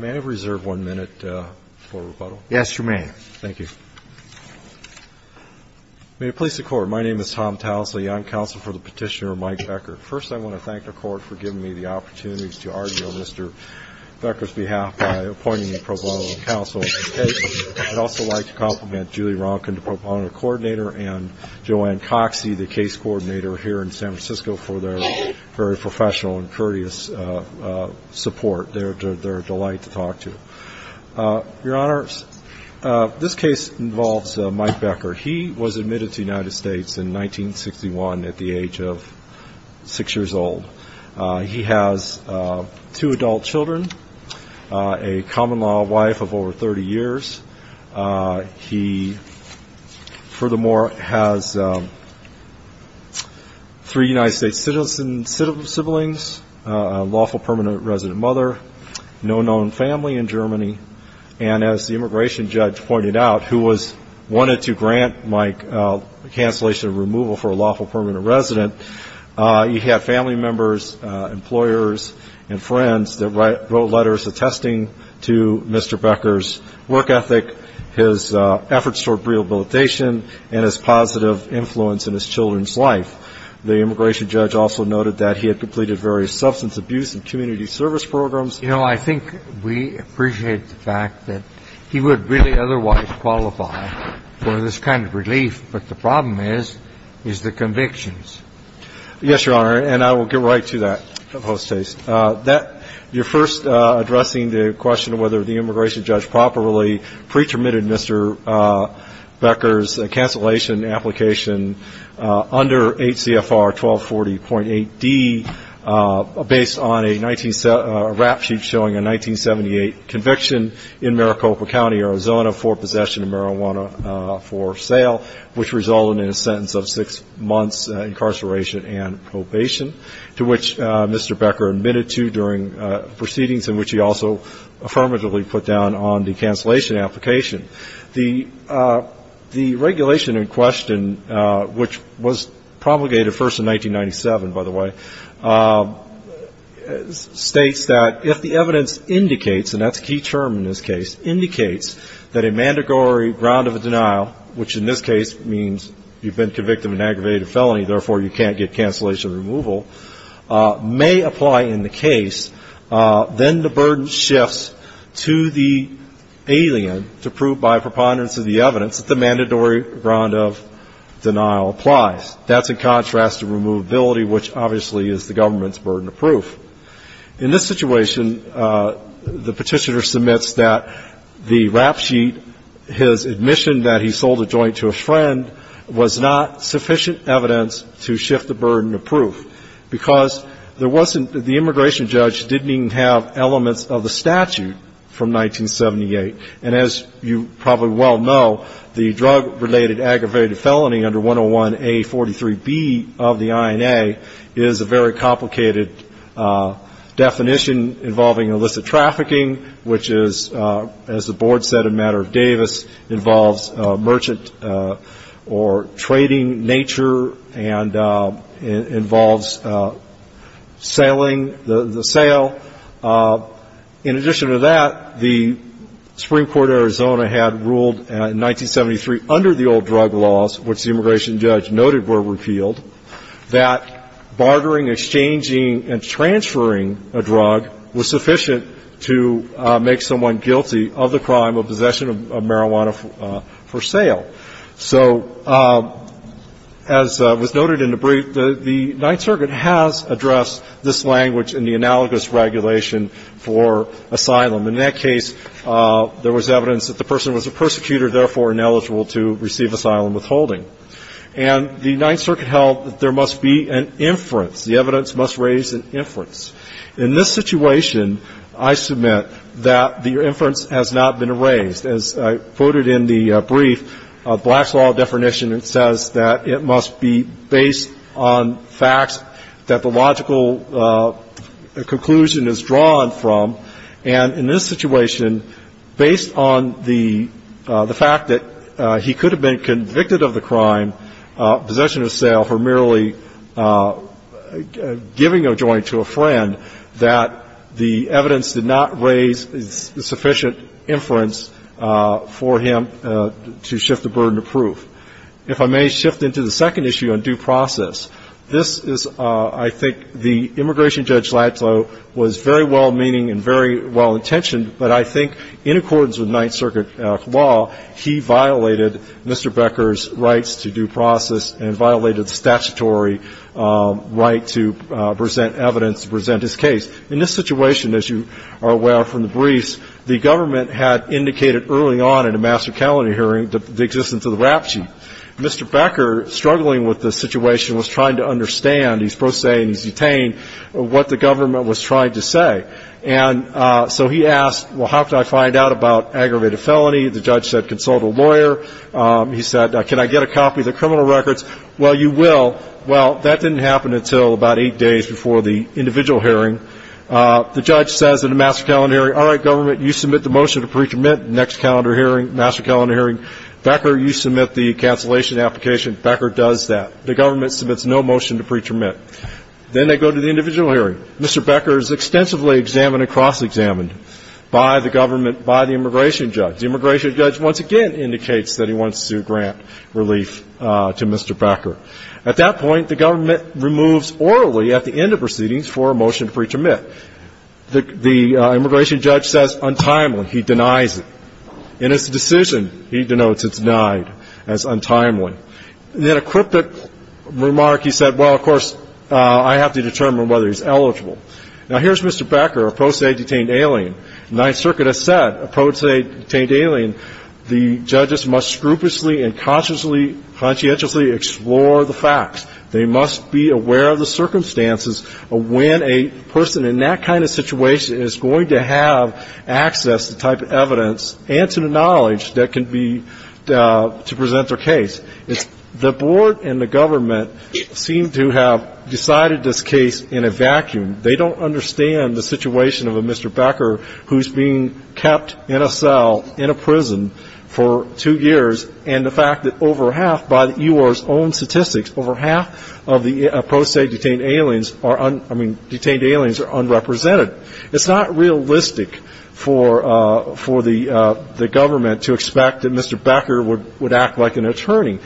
May I reserve one minute for rebuttal? Yes, you may. Thank you. May it please the Court, my name is Tom Towsley, I am counsel for the petitioner Mike Becker. First, I want to thank the Court for giving me the opportunity to argue on Mr. Becker's case. I'd also like to compliment Julie Ronkin, the proponent coordinator, and Joanne Coxey, the case coordinator here in San Francisco for their very professional and courteous support. They are a delight to talk to. Your Honor, this case involves Mike Becker. He was admitted to the United States in 1961 at the age of six years old. He has two adult children, a common-law wife of over 30 years. He furthermore has three United States citizens siblings, a lawful permanent resident mother, no known family in Germany, and as the immigration judge pointed out, who wanted to grant Mike lawful permanent resident, he had family members, employers, and friends that wrote letters attesting to Mr. Becker's work ethic, his efforts toward rehabilitation, and his positive influence in his children's life. The immigration judge also noted that he had completed various substance abuse and community service programs. You know, I think we appreciate the fact that he would really otherwise qualify for this kind of relief, but the problem is, is the convictions. Yes, Your Honor, and I will get right to that post-haste. Your first addressing the question of whether the immigration judge properly pre-termitted Mr. Becker's cancellation application under HCFR 1240.8D based on a rap sheet showing a 1978 conviction in Maricopa County, Arizona, for possession of marijuana for sale, which resulted in a sentence of six months incarceration and probation, to which Mr. Becker admitted to during proceedings, and which he also affirmatively put down on the cancellation application. The regulation in question, which was promulgated first in 1997, by the way, states that if the evidence indicates, and that's a key term in this case, indicates that a mandatory ground of denial, which in this case means you've been convicted of an aggravated felony, therefore you can't get cancellation removal, may apply in the case, then the burden shifts to the alien to prove by preponderance of the evidence that the mandatory ground of denial applies. That's in contrast to removability, which obviously is the government's burden of proof. In this situation, the Petitioner submits that the rap sheet, his admission that he sold a joint to a friend, was not sufficient evidence to shift the burden of proof, because there wasn't the immigration judge didn't even have elements of the statute from 1978. And as you probably well know, the drug-related aggravated felony under 101A43B of the INA is a very complicated definition involving illicit trafficking, which is, as the Board said in Matter of Davis, involves merchant or trading nature and involves the sale. In addition to that, the Supreme Court of Arizona had ruled in 1973 under the old drug laws, which the immigration judge noted were repealed, that bartering, exchanging and transferring a drug was sufficient to make someone guilty of the crime of possession of marijuana for sale. So as was noted in the brief, the Ninth Circuit has addressed this language in the analogous regulation for asylum. In that case, there was evidence that the person was a persecutor, therefore ineligible to receive asylum withholding. And the Ninth Circuit held that there must be an inference, the evidence must raise an inference. In this situation, I submit that the inference has not been raised. As I quoted in the brief, Black's law definition, it says that it must be based on facts that the logical conclusion is drawn from. And in this situation, based on the fact that he could have been convicted of the crime, possession of sale, for merely giving a joint to a friend, that the evidence did not raise sufficient inference for him to shift the burden of proof. If I may shift into the second issue on due process, this is, I think, the immigration judge Ladslow was very well-meaning and very well-intentioned, but I think in accordance with Ninth Circuit law, he violated Mr. Becker's rights to due process and violated the statutory right to present evidence, to present his case. In this situation, as you are aware from the briefs, the government had indicated early on in a master calendar hearing the existence of the rap sheet. Mr. Becker, struggling with this situation, was trying to understand, he's prosaic and he's detained, what the government was trying to say. And so he asked, well, how can I find out about aggravated felony? The judge said consult a lawyer. He said, can I get a copy of the criminal records? Well, you will. Well, that didn't happen until about eight days before the individual hearing. The judge says in a master calendar hearing, all right, government, you submit the motion to pre-termit, next calendar hearing, master calendar hearing. Becker, you submit the cancellation application. Becker does that. The government submits no motion to pre-termit. Then they go to the individual hearing. Mr. Becker is extensively examined and cross-examined by the government, by the immigration judge. The immigration judge once again indicates that he wants to grant relief to Mr. Becker. At that point, the government removes orally at the end of proceedings for a motion to pre-termit. The immigration judge says untimely. He denies it. In his decision, he denotes it's denied as untimely. In a cryptic remark, he said, well, of course, I have to determine whether he's eligible. Now, here's Mr. Becker, a pro se detained alien. Ninth Circuit has said, a pro se detained alien, the judges must scrupulously and consciously, conscientiously explore the facts. They must be aware of the circumstances of when a person in that kind of situation is going to have access to the type of evidence and to the knowledge that can be to present their case. The board and the government seem to have decided this case in a vacuum. They don't understand the situation of a Mr. Becker who's being kept in a cell, in a prison, for two years. And the fact that over half, by the EOR's own statistics, over half of the pro se detained aliens are, I mean, detained aliens are unrepresented. It's not realistic for the government to expect that Mr. Becker would act like an attorney.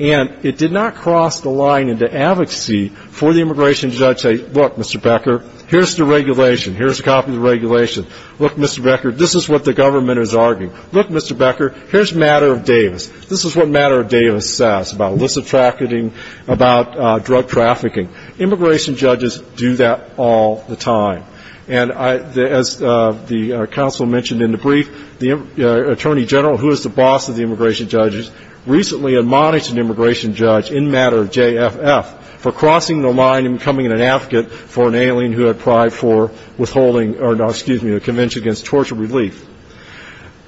And it did not cross the line into advocacy for the immigration judge to say, look, Mr. Becker, here's the regulation. Here's a copy of the regulation. Look, Mr. Becker, this is what the government is arguing. Look, Mr. Becker, here's a matter of Davis. This is what a matter of Davis says about illicit trafficking, about drug trafficking. Immigration judges do that all the time. And as the counsel mentioned in the brief, the attorney general, who is the boss of the agency, admonished an immigration judge in matter of JFF for crossing the line and becoming an advocate for an alien who had pried for withholding or, excuse me, a convention against torture relief.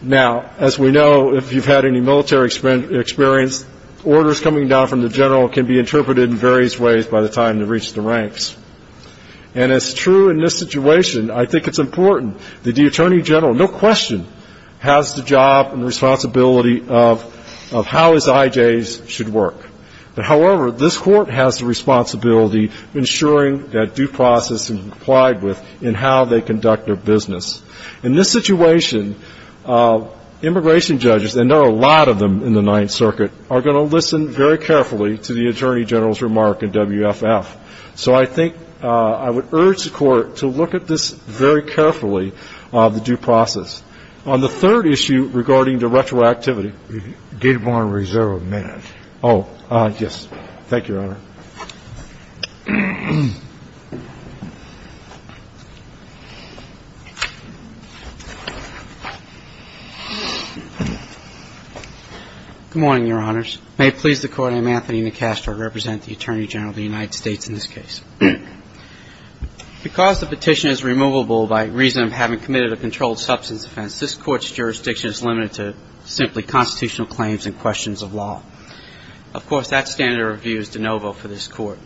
Now, as we know, if you've had any military experience, orders coming down from the general can be interpreted in various ways by the time they reach the ranks. And it's true in this situation, I think it's important that the attorney general, no question, has the job and responsibility of how his IJs should work. However, this Court has the responsibility of ensuring that due process is complied with in how they conduct their business. In this situation, immigration judges, and there are a lot of them in the Ninth Circuit, are going to listen very carefully to the attorney general's remark in WFF. So I think I would urge the Court to look at this very carefully, the due process. On the third issue regarding the retroactivity. Gate of Border Reserve, a minute. Oh, yes. Thank you, Your Honor. Good morning, Your Honors. May it please the Court, I'm Anthony McCastor, I represent the Attorney General of the United States in this case. Because the petition is removable by reason of having committed a controlled substance offense, this Court's jurisdiction is limited to simply constitutional claims and questions of law. Of course, that standard of view is de novo for this Court.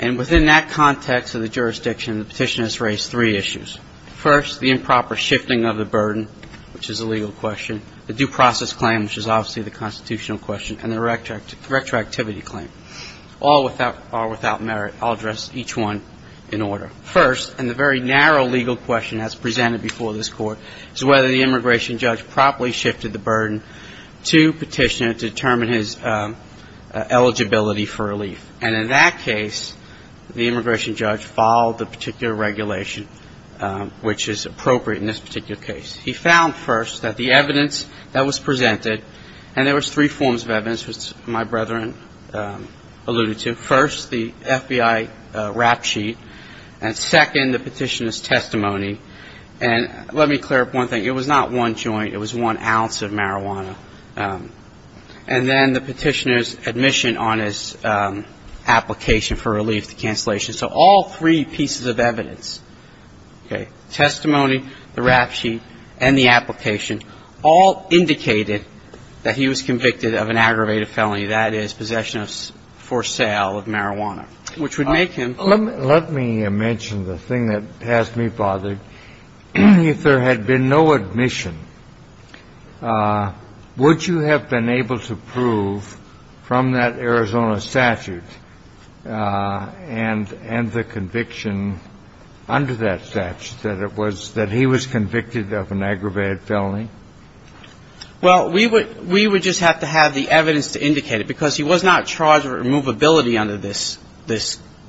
And within that context of the jurisdiction, the petition has raised three issues. First, the improper shifting of the burden, which is a legal question. The due process claim, which is obviously the constitutional question. And the retroactivity claim. All are without merit. I'll address each one in order. First, and the very narrow legal question as presented before this Court, is whether the immigration judge properly shifted the burden to petitioner to determine his eligibility for relief. And in that case, the immigration judge followed the particular regulation which is appropriate in this particular case. He found first that the evidence that was presented, and there was three forms of evidence, which my brethren alluded to. First, the FBI rap sheet. And second, the petitioner's testimony. And let me clear up one thing. It was not one joint. It was one ounce of marijuana. And then the petitioner's admission on his application for relief, the cancellation. So all three pieces of evidence, okay, testimony, the rap sheet, and the application, all indicated that he was convicted of an aggravated felony. That is, possession for sale of marijuana. Which would make him. Let me mention the thing that has me bothered. If there had been no admission, would you have been able to prove from that Arizona statute and the conviction under that statute that it was, that he was convicted of an aggravated felony? Well, we would just have to have the evidence to indicate it. Because he was not charged with removability under this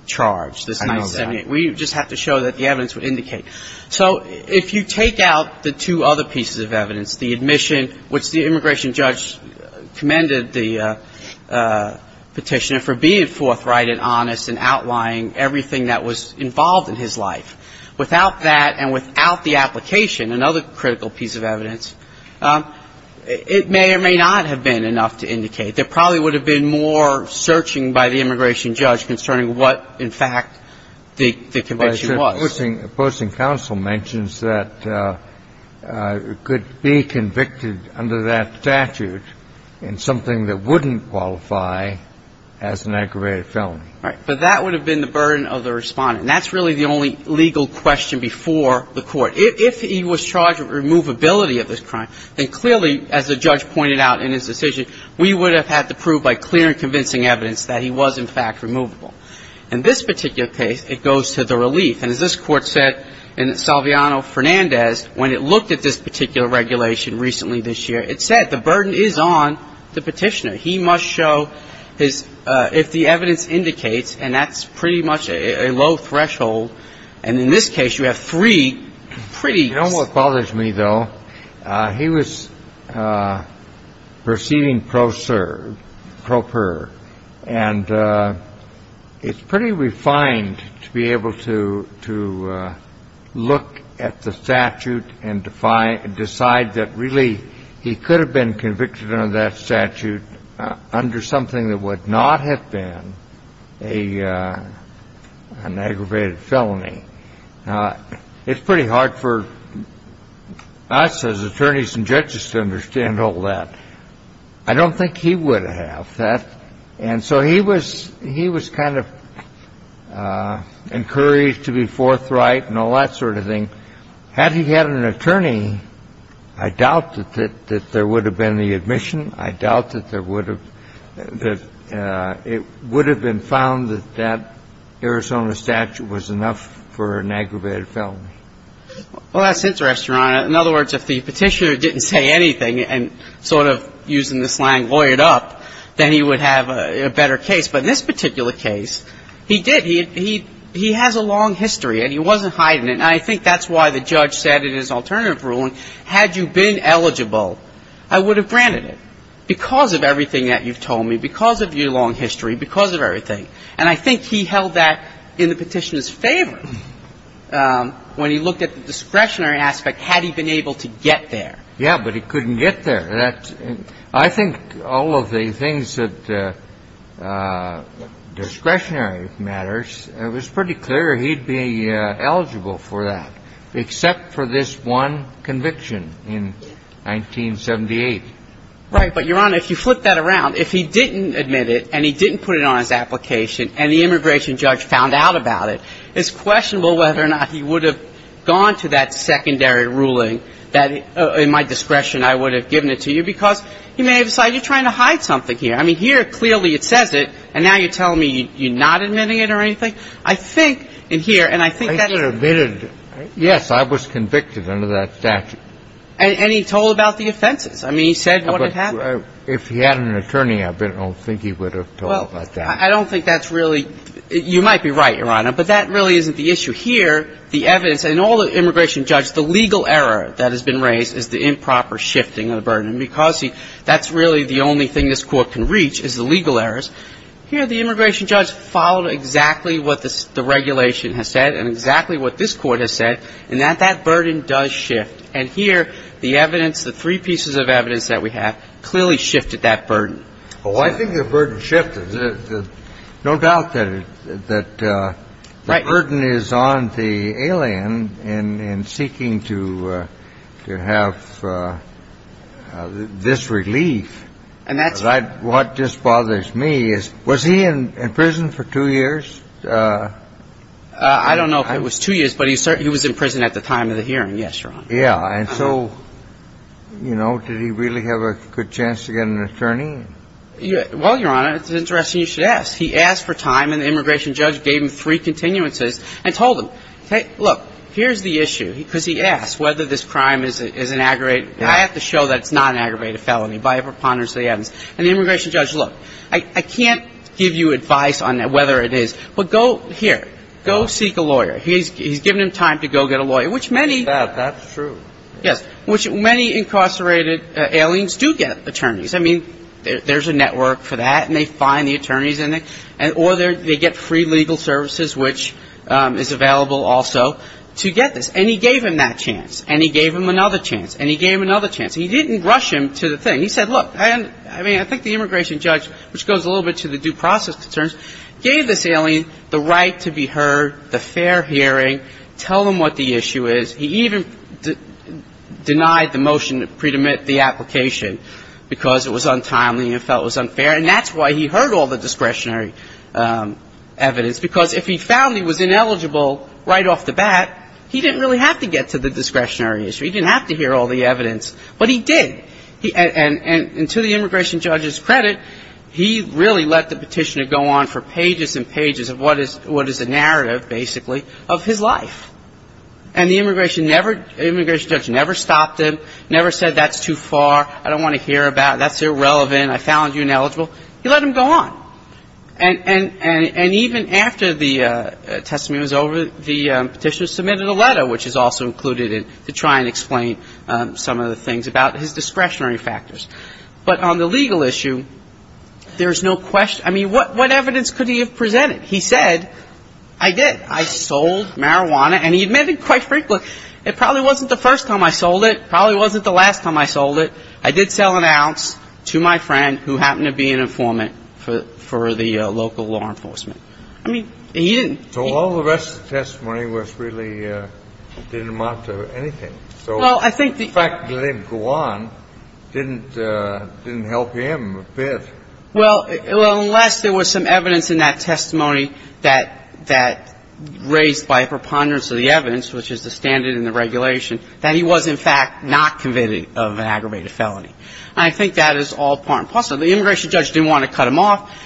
charge, this 978. We just have to show that the evidence would indicate. So if you take out the two other pieces of evidence, the admission, which the immigration judge commended the petitioner for being forthright and honest and outlying everything that was involved in his life. Without that and without the application, another critical piece of evidence, it may or may not have been enough to indicate. There probably would have been more searching by the immigration judge concerning what, in fact, the conviction was. Posting counsel mentions that it could be convicted under that statute in something that wouldn't qualify as an aggravated felony. Right. But that would have been the burden of the Respondent. That's really the only legal question before the court. If he was charged with removability of this crime, then clearly, as the judge pointed out in his decision, we would have had to prove by clear and convincing evidence that he was, in fact, removable. In this particular case, it goes to the relief. And as this court said in Salviano-Fernandez, when it looked at this particular regulation recently this year, it said the burden is on the petitioner. He must show his, if the evidence indicates, and that's pretty much a low threshold. And in this case, you have three pretty. You know what bothers me, though? He was proceeding pro-serve, pro-per. And it's pretty refined to be able to look at the statute and decide that really he could have been convicted under that statute under something that would not have been an aggravated felony. It's pretty hard for us as attorneys and judges to understand all that. I don't think he would have. And so he was kind of encouraged to be forthright and all that sort of thing. But had he had an attorney, I doubt that there would have been the admission. I doubt that there would have been found that that Arizona statute was enough for an aggravated felony. Well, that's interesting, Your Honor. In other words, if the petitioner didn't say anything and sort of, using the slang, lawyered up, then he would have a better case. But in this particular case, he did. He has a long history, and he wasn't hiding it. And I think that's why the judge said in his alternative ruling, had you been eligible, I would have granted it because of everything that you've told me, because of your long history, because of everything. And I think he held that in the petitioner's favor when he looked at the discretionary aspect, had he been able to get there. Yeah, but he couldn't get there. I think all of the things that discretionary matters, it was pretty clear he'd be eligible for that, except for this one conviction in 1978. Right. But, Your Honor, if you flip that around, if he didn't admit it and he didn't put it on his application and the immigration judge found out about it, it's questionable whether or not he would have gone to that secondary ruling that, in my discretion, I would have given it to you, because he may have decided you're trying to hide something here. I mean, here, clearly, it says it, and now you're telling me you're not admitting it or anything? I think in here, and I think that's why he didn't admit it. Yes, I was convicted under that statute. And he told about the offenses. I mean, he said what had happened. But if he had an attorney, I don't think he would have told about that. I don't think that's really – you might be right, Your Honor, but that really isn't the issue. Here, the evidence – and all the immigration judge, the legal error that has been raised is the improper shifting of the burden, and because that's really the only thing this Court can reach is the legal errors. Here, the immigration judge followed exactly what the regulation has said and exactly what this Court has said, and that that burden does shift. And here, the evidence, the three pieces of evidence that we have clearly shifted that burden. Well, I think the burden shifted. No doubt that the burden is on the alien in seeking to have this relief. And that's – What just bothers me is, was he in prison for two years? I don't know if it was two years, but he was in prison at the time of the hearing. Yes, Your Honor. Yeah. And so, you know, did he really have a good chance to get an attorney? Well, Your Honor, it's interesting you should ask. He asked for time, and the immigration judge gave him three continuances and told him, look, here's the issue, because he asked whether this crime is an aggravated – I have to show that it's not an aggravated felony by a preponderance of the evidence. And the immigration judge, look, I can't give you advice on whether it is. But go – here, go seek a lawyer. He's given him time to go get a lawyer, which many – That's true. Yes, which many incarcerated aliens do get attorneys. I mean, there's a network for that, and they find the attorneys, or they get free legal services, which is available also to get this. And he gave him that chance, and he gave him another chance, and he gave him another chance. He didn't rush him to the thing. He said, look, I mean, I think the immigration judge, which goes a little bit to the due process concerns, gave this alien the right to be heard, the fair hearing, tell them what the issue is. He even denied the motion to pre-admit the application, because it was untimely and felt it was unfair. And that's why he heard all the discretionary evidence, because if he found he was ineligible right off the bat, he didn't really have to get to the discretionary issue. He didn't have to hear all the evidence, but he did. And to the immigration judge's credit, he really let the petitioner go on for pages and pages of what is the narrative, basically, of his life. And the immigration judge never stopped him, never said that's too far, I don't want to hear about it, that's irrelevant, I found you ineligible. He let him go on. And even after the testimony was over, the petitioner submitted a letter, which is also included in, to try and explain some of the things about his discretionary factors. But on the legal issue, there's no question, I mean, what evidence could he have presented? He said, I did, I sold marijuana, and he admitted quite frankly, it probably wasn't the first time I sold it, probably wasn't the last time I sold it, I did sell an ounce to my friend who happened to be an informant for the local law enforcement. I mean, he didn't. So all the rest of the testimony was really, didn't amount to anything. Well, I think the fact that he let him go on didn't help him a bit. Well, unless there was some evidence in that testimony that raised by a preponderance of the evidence, which is the standard in the regulation, that he was in fact not convicted of an aggravated felony. And I think that is all part and parcel. The immigration judge didn't want to cut him off.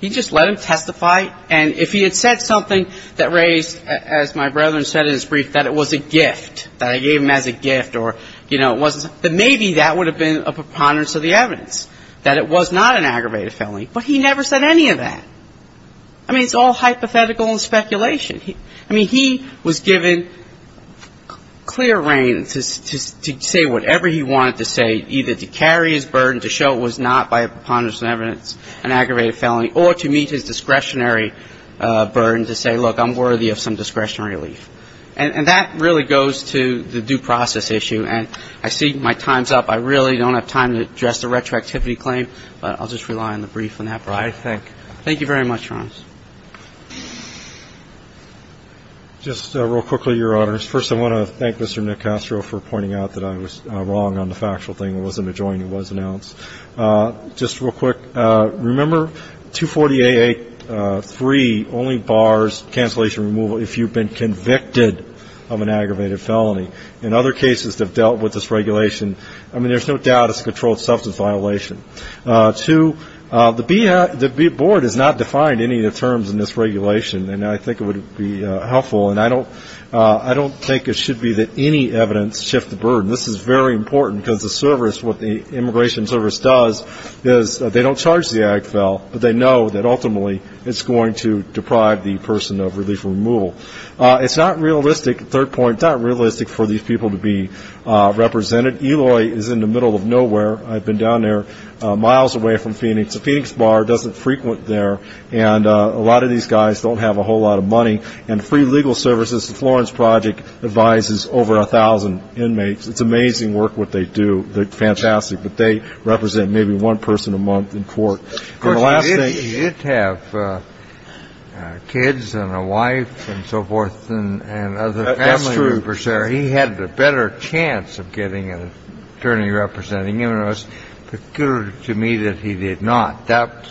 He just let him testify. And if he had said something that raised, as my brother said in his brief, that it was a gift, that I gave him as a gift, or, you know, it wasn't, then maybe that would have been a preponderance of the evidence, that it was not an aggravated felony. But he never said any of that. I mean, it's all hypothetical and speculation. I mean, he was given clear reign to say whatever he wanted to say, either to carry his burden, to show it was not by a preponderance of the evidence an aggravated felony, or to meet his discretionary burden, to say, look, I'm worthy of some discretionary relief. And that really goes to the due process issue. And I see my time's up. I really don't have time to address the retroactivity claim, but I'll just rely on the brief on that part. I think. Thank you very much, Your Honors. Just real quickly, Your Honors. First, I want to thank Mr. Nick Castro for pointing out that I was wrong on the factual thing. It wasn't a joint. It was announced. Just real quick, remember, 240AA3 only bars cancellation removal if you've been convicted of an aggravated felony. In other cases that have dealt with this regulation, I mean, there's no doubt it's a controlled substance violation. Two, the board has not defined any of the terms in this regulation, and I think it would be helpful. And I don't think it should be that any evidence shifts the burden. This is very important, because the service, what the immigration service does is they don't charge the AGFL, but they know that ultimately it's going to deprive the person of relief removal. It's not realistic, third point, not realistic for these people to be represented. Eloy is in the middle of nowhere. I've been down there miles away from Phoenix. The Phoenix bar doesn't frequent there, and a lot of these guys don't have a whole lot of money. And free legal services, the Florence Project advises over 1,000 inmates. It's amazing work, what they do. They're fantastic. But they represent maybe one person a month in court. And the last thing you have kids and a wife and so forth and other family members there, he had a better chance of getting an attorney representing him. It was peculiar to me that he did not. That's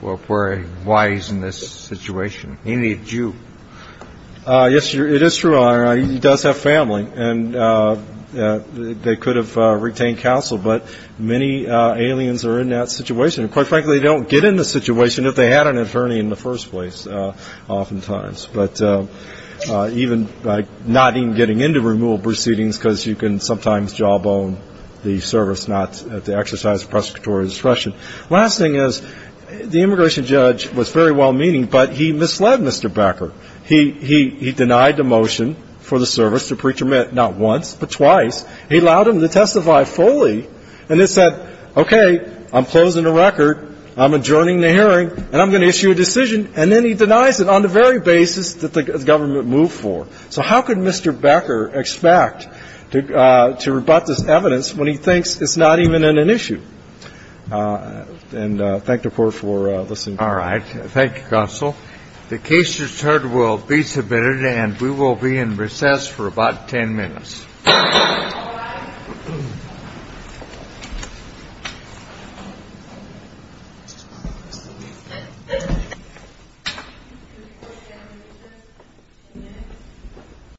why he's in this situation. He needs you. Yes, it is true, Your Honor. He does have family, and they could have retained counsel. But many aliens are in that situation, and quite frankly, they don't get in the situation if they had an attorney in the first place, oftentimes. But not even getting into removal proceedings, because you can sometimes jawbone the service not to exercise prosecutorial discretion. Last thing is, the immigration judge was very well-meaning, but he misled Mr. Becker. He denied the motion for the service to pre-terminate not once, but twice. He allowed him to testify fully, and then said, okay, I'm closing the record. I'm adjourning the hearing, and I'm going to issue a decision. And then he denies it on the very basis that the government moved for. So how could Mr. Becker expect to rebut this evidence when he thinks it's not even an issue? All right. Thank you, Counsel. The case result will be submitted, and we will be in recess for about 10 minutes.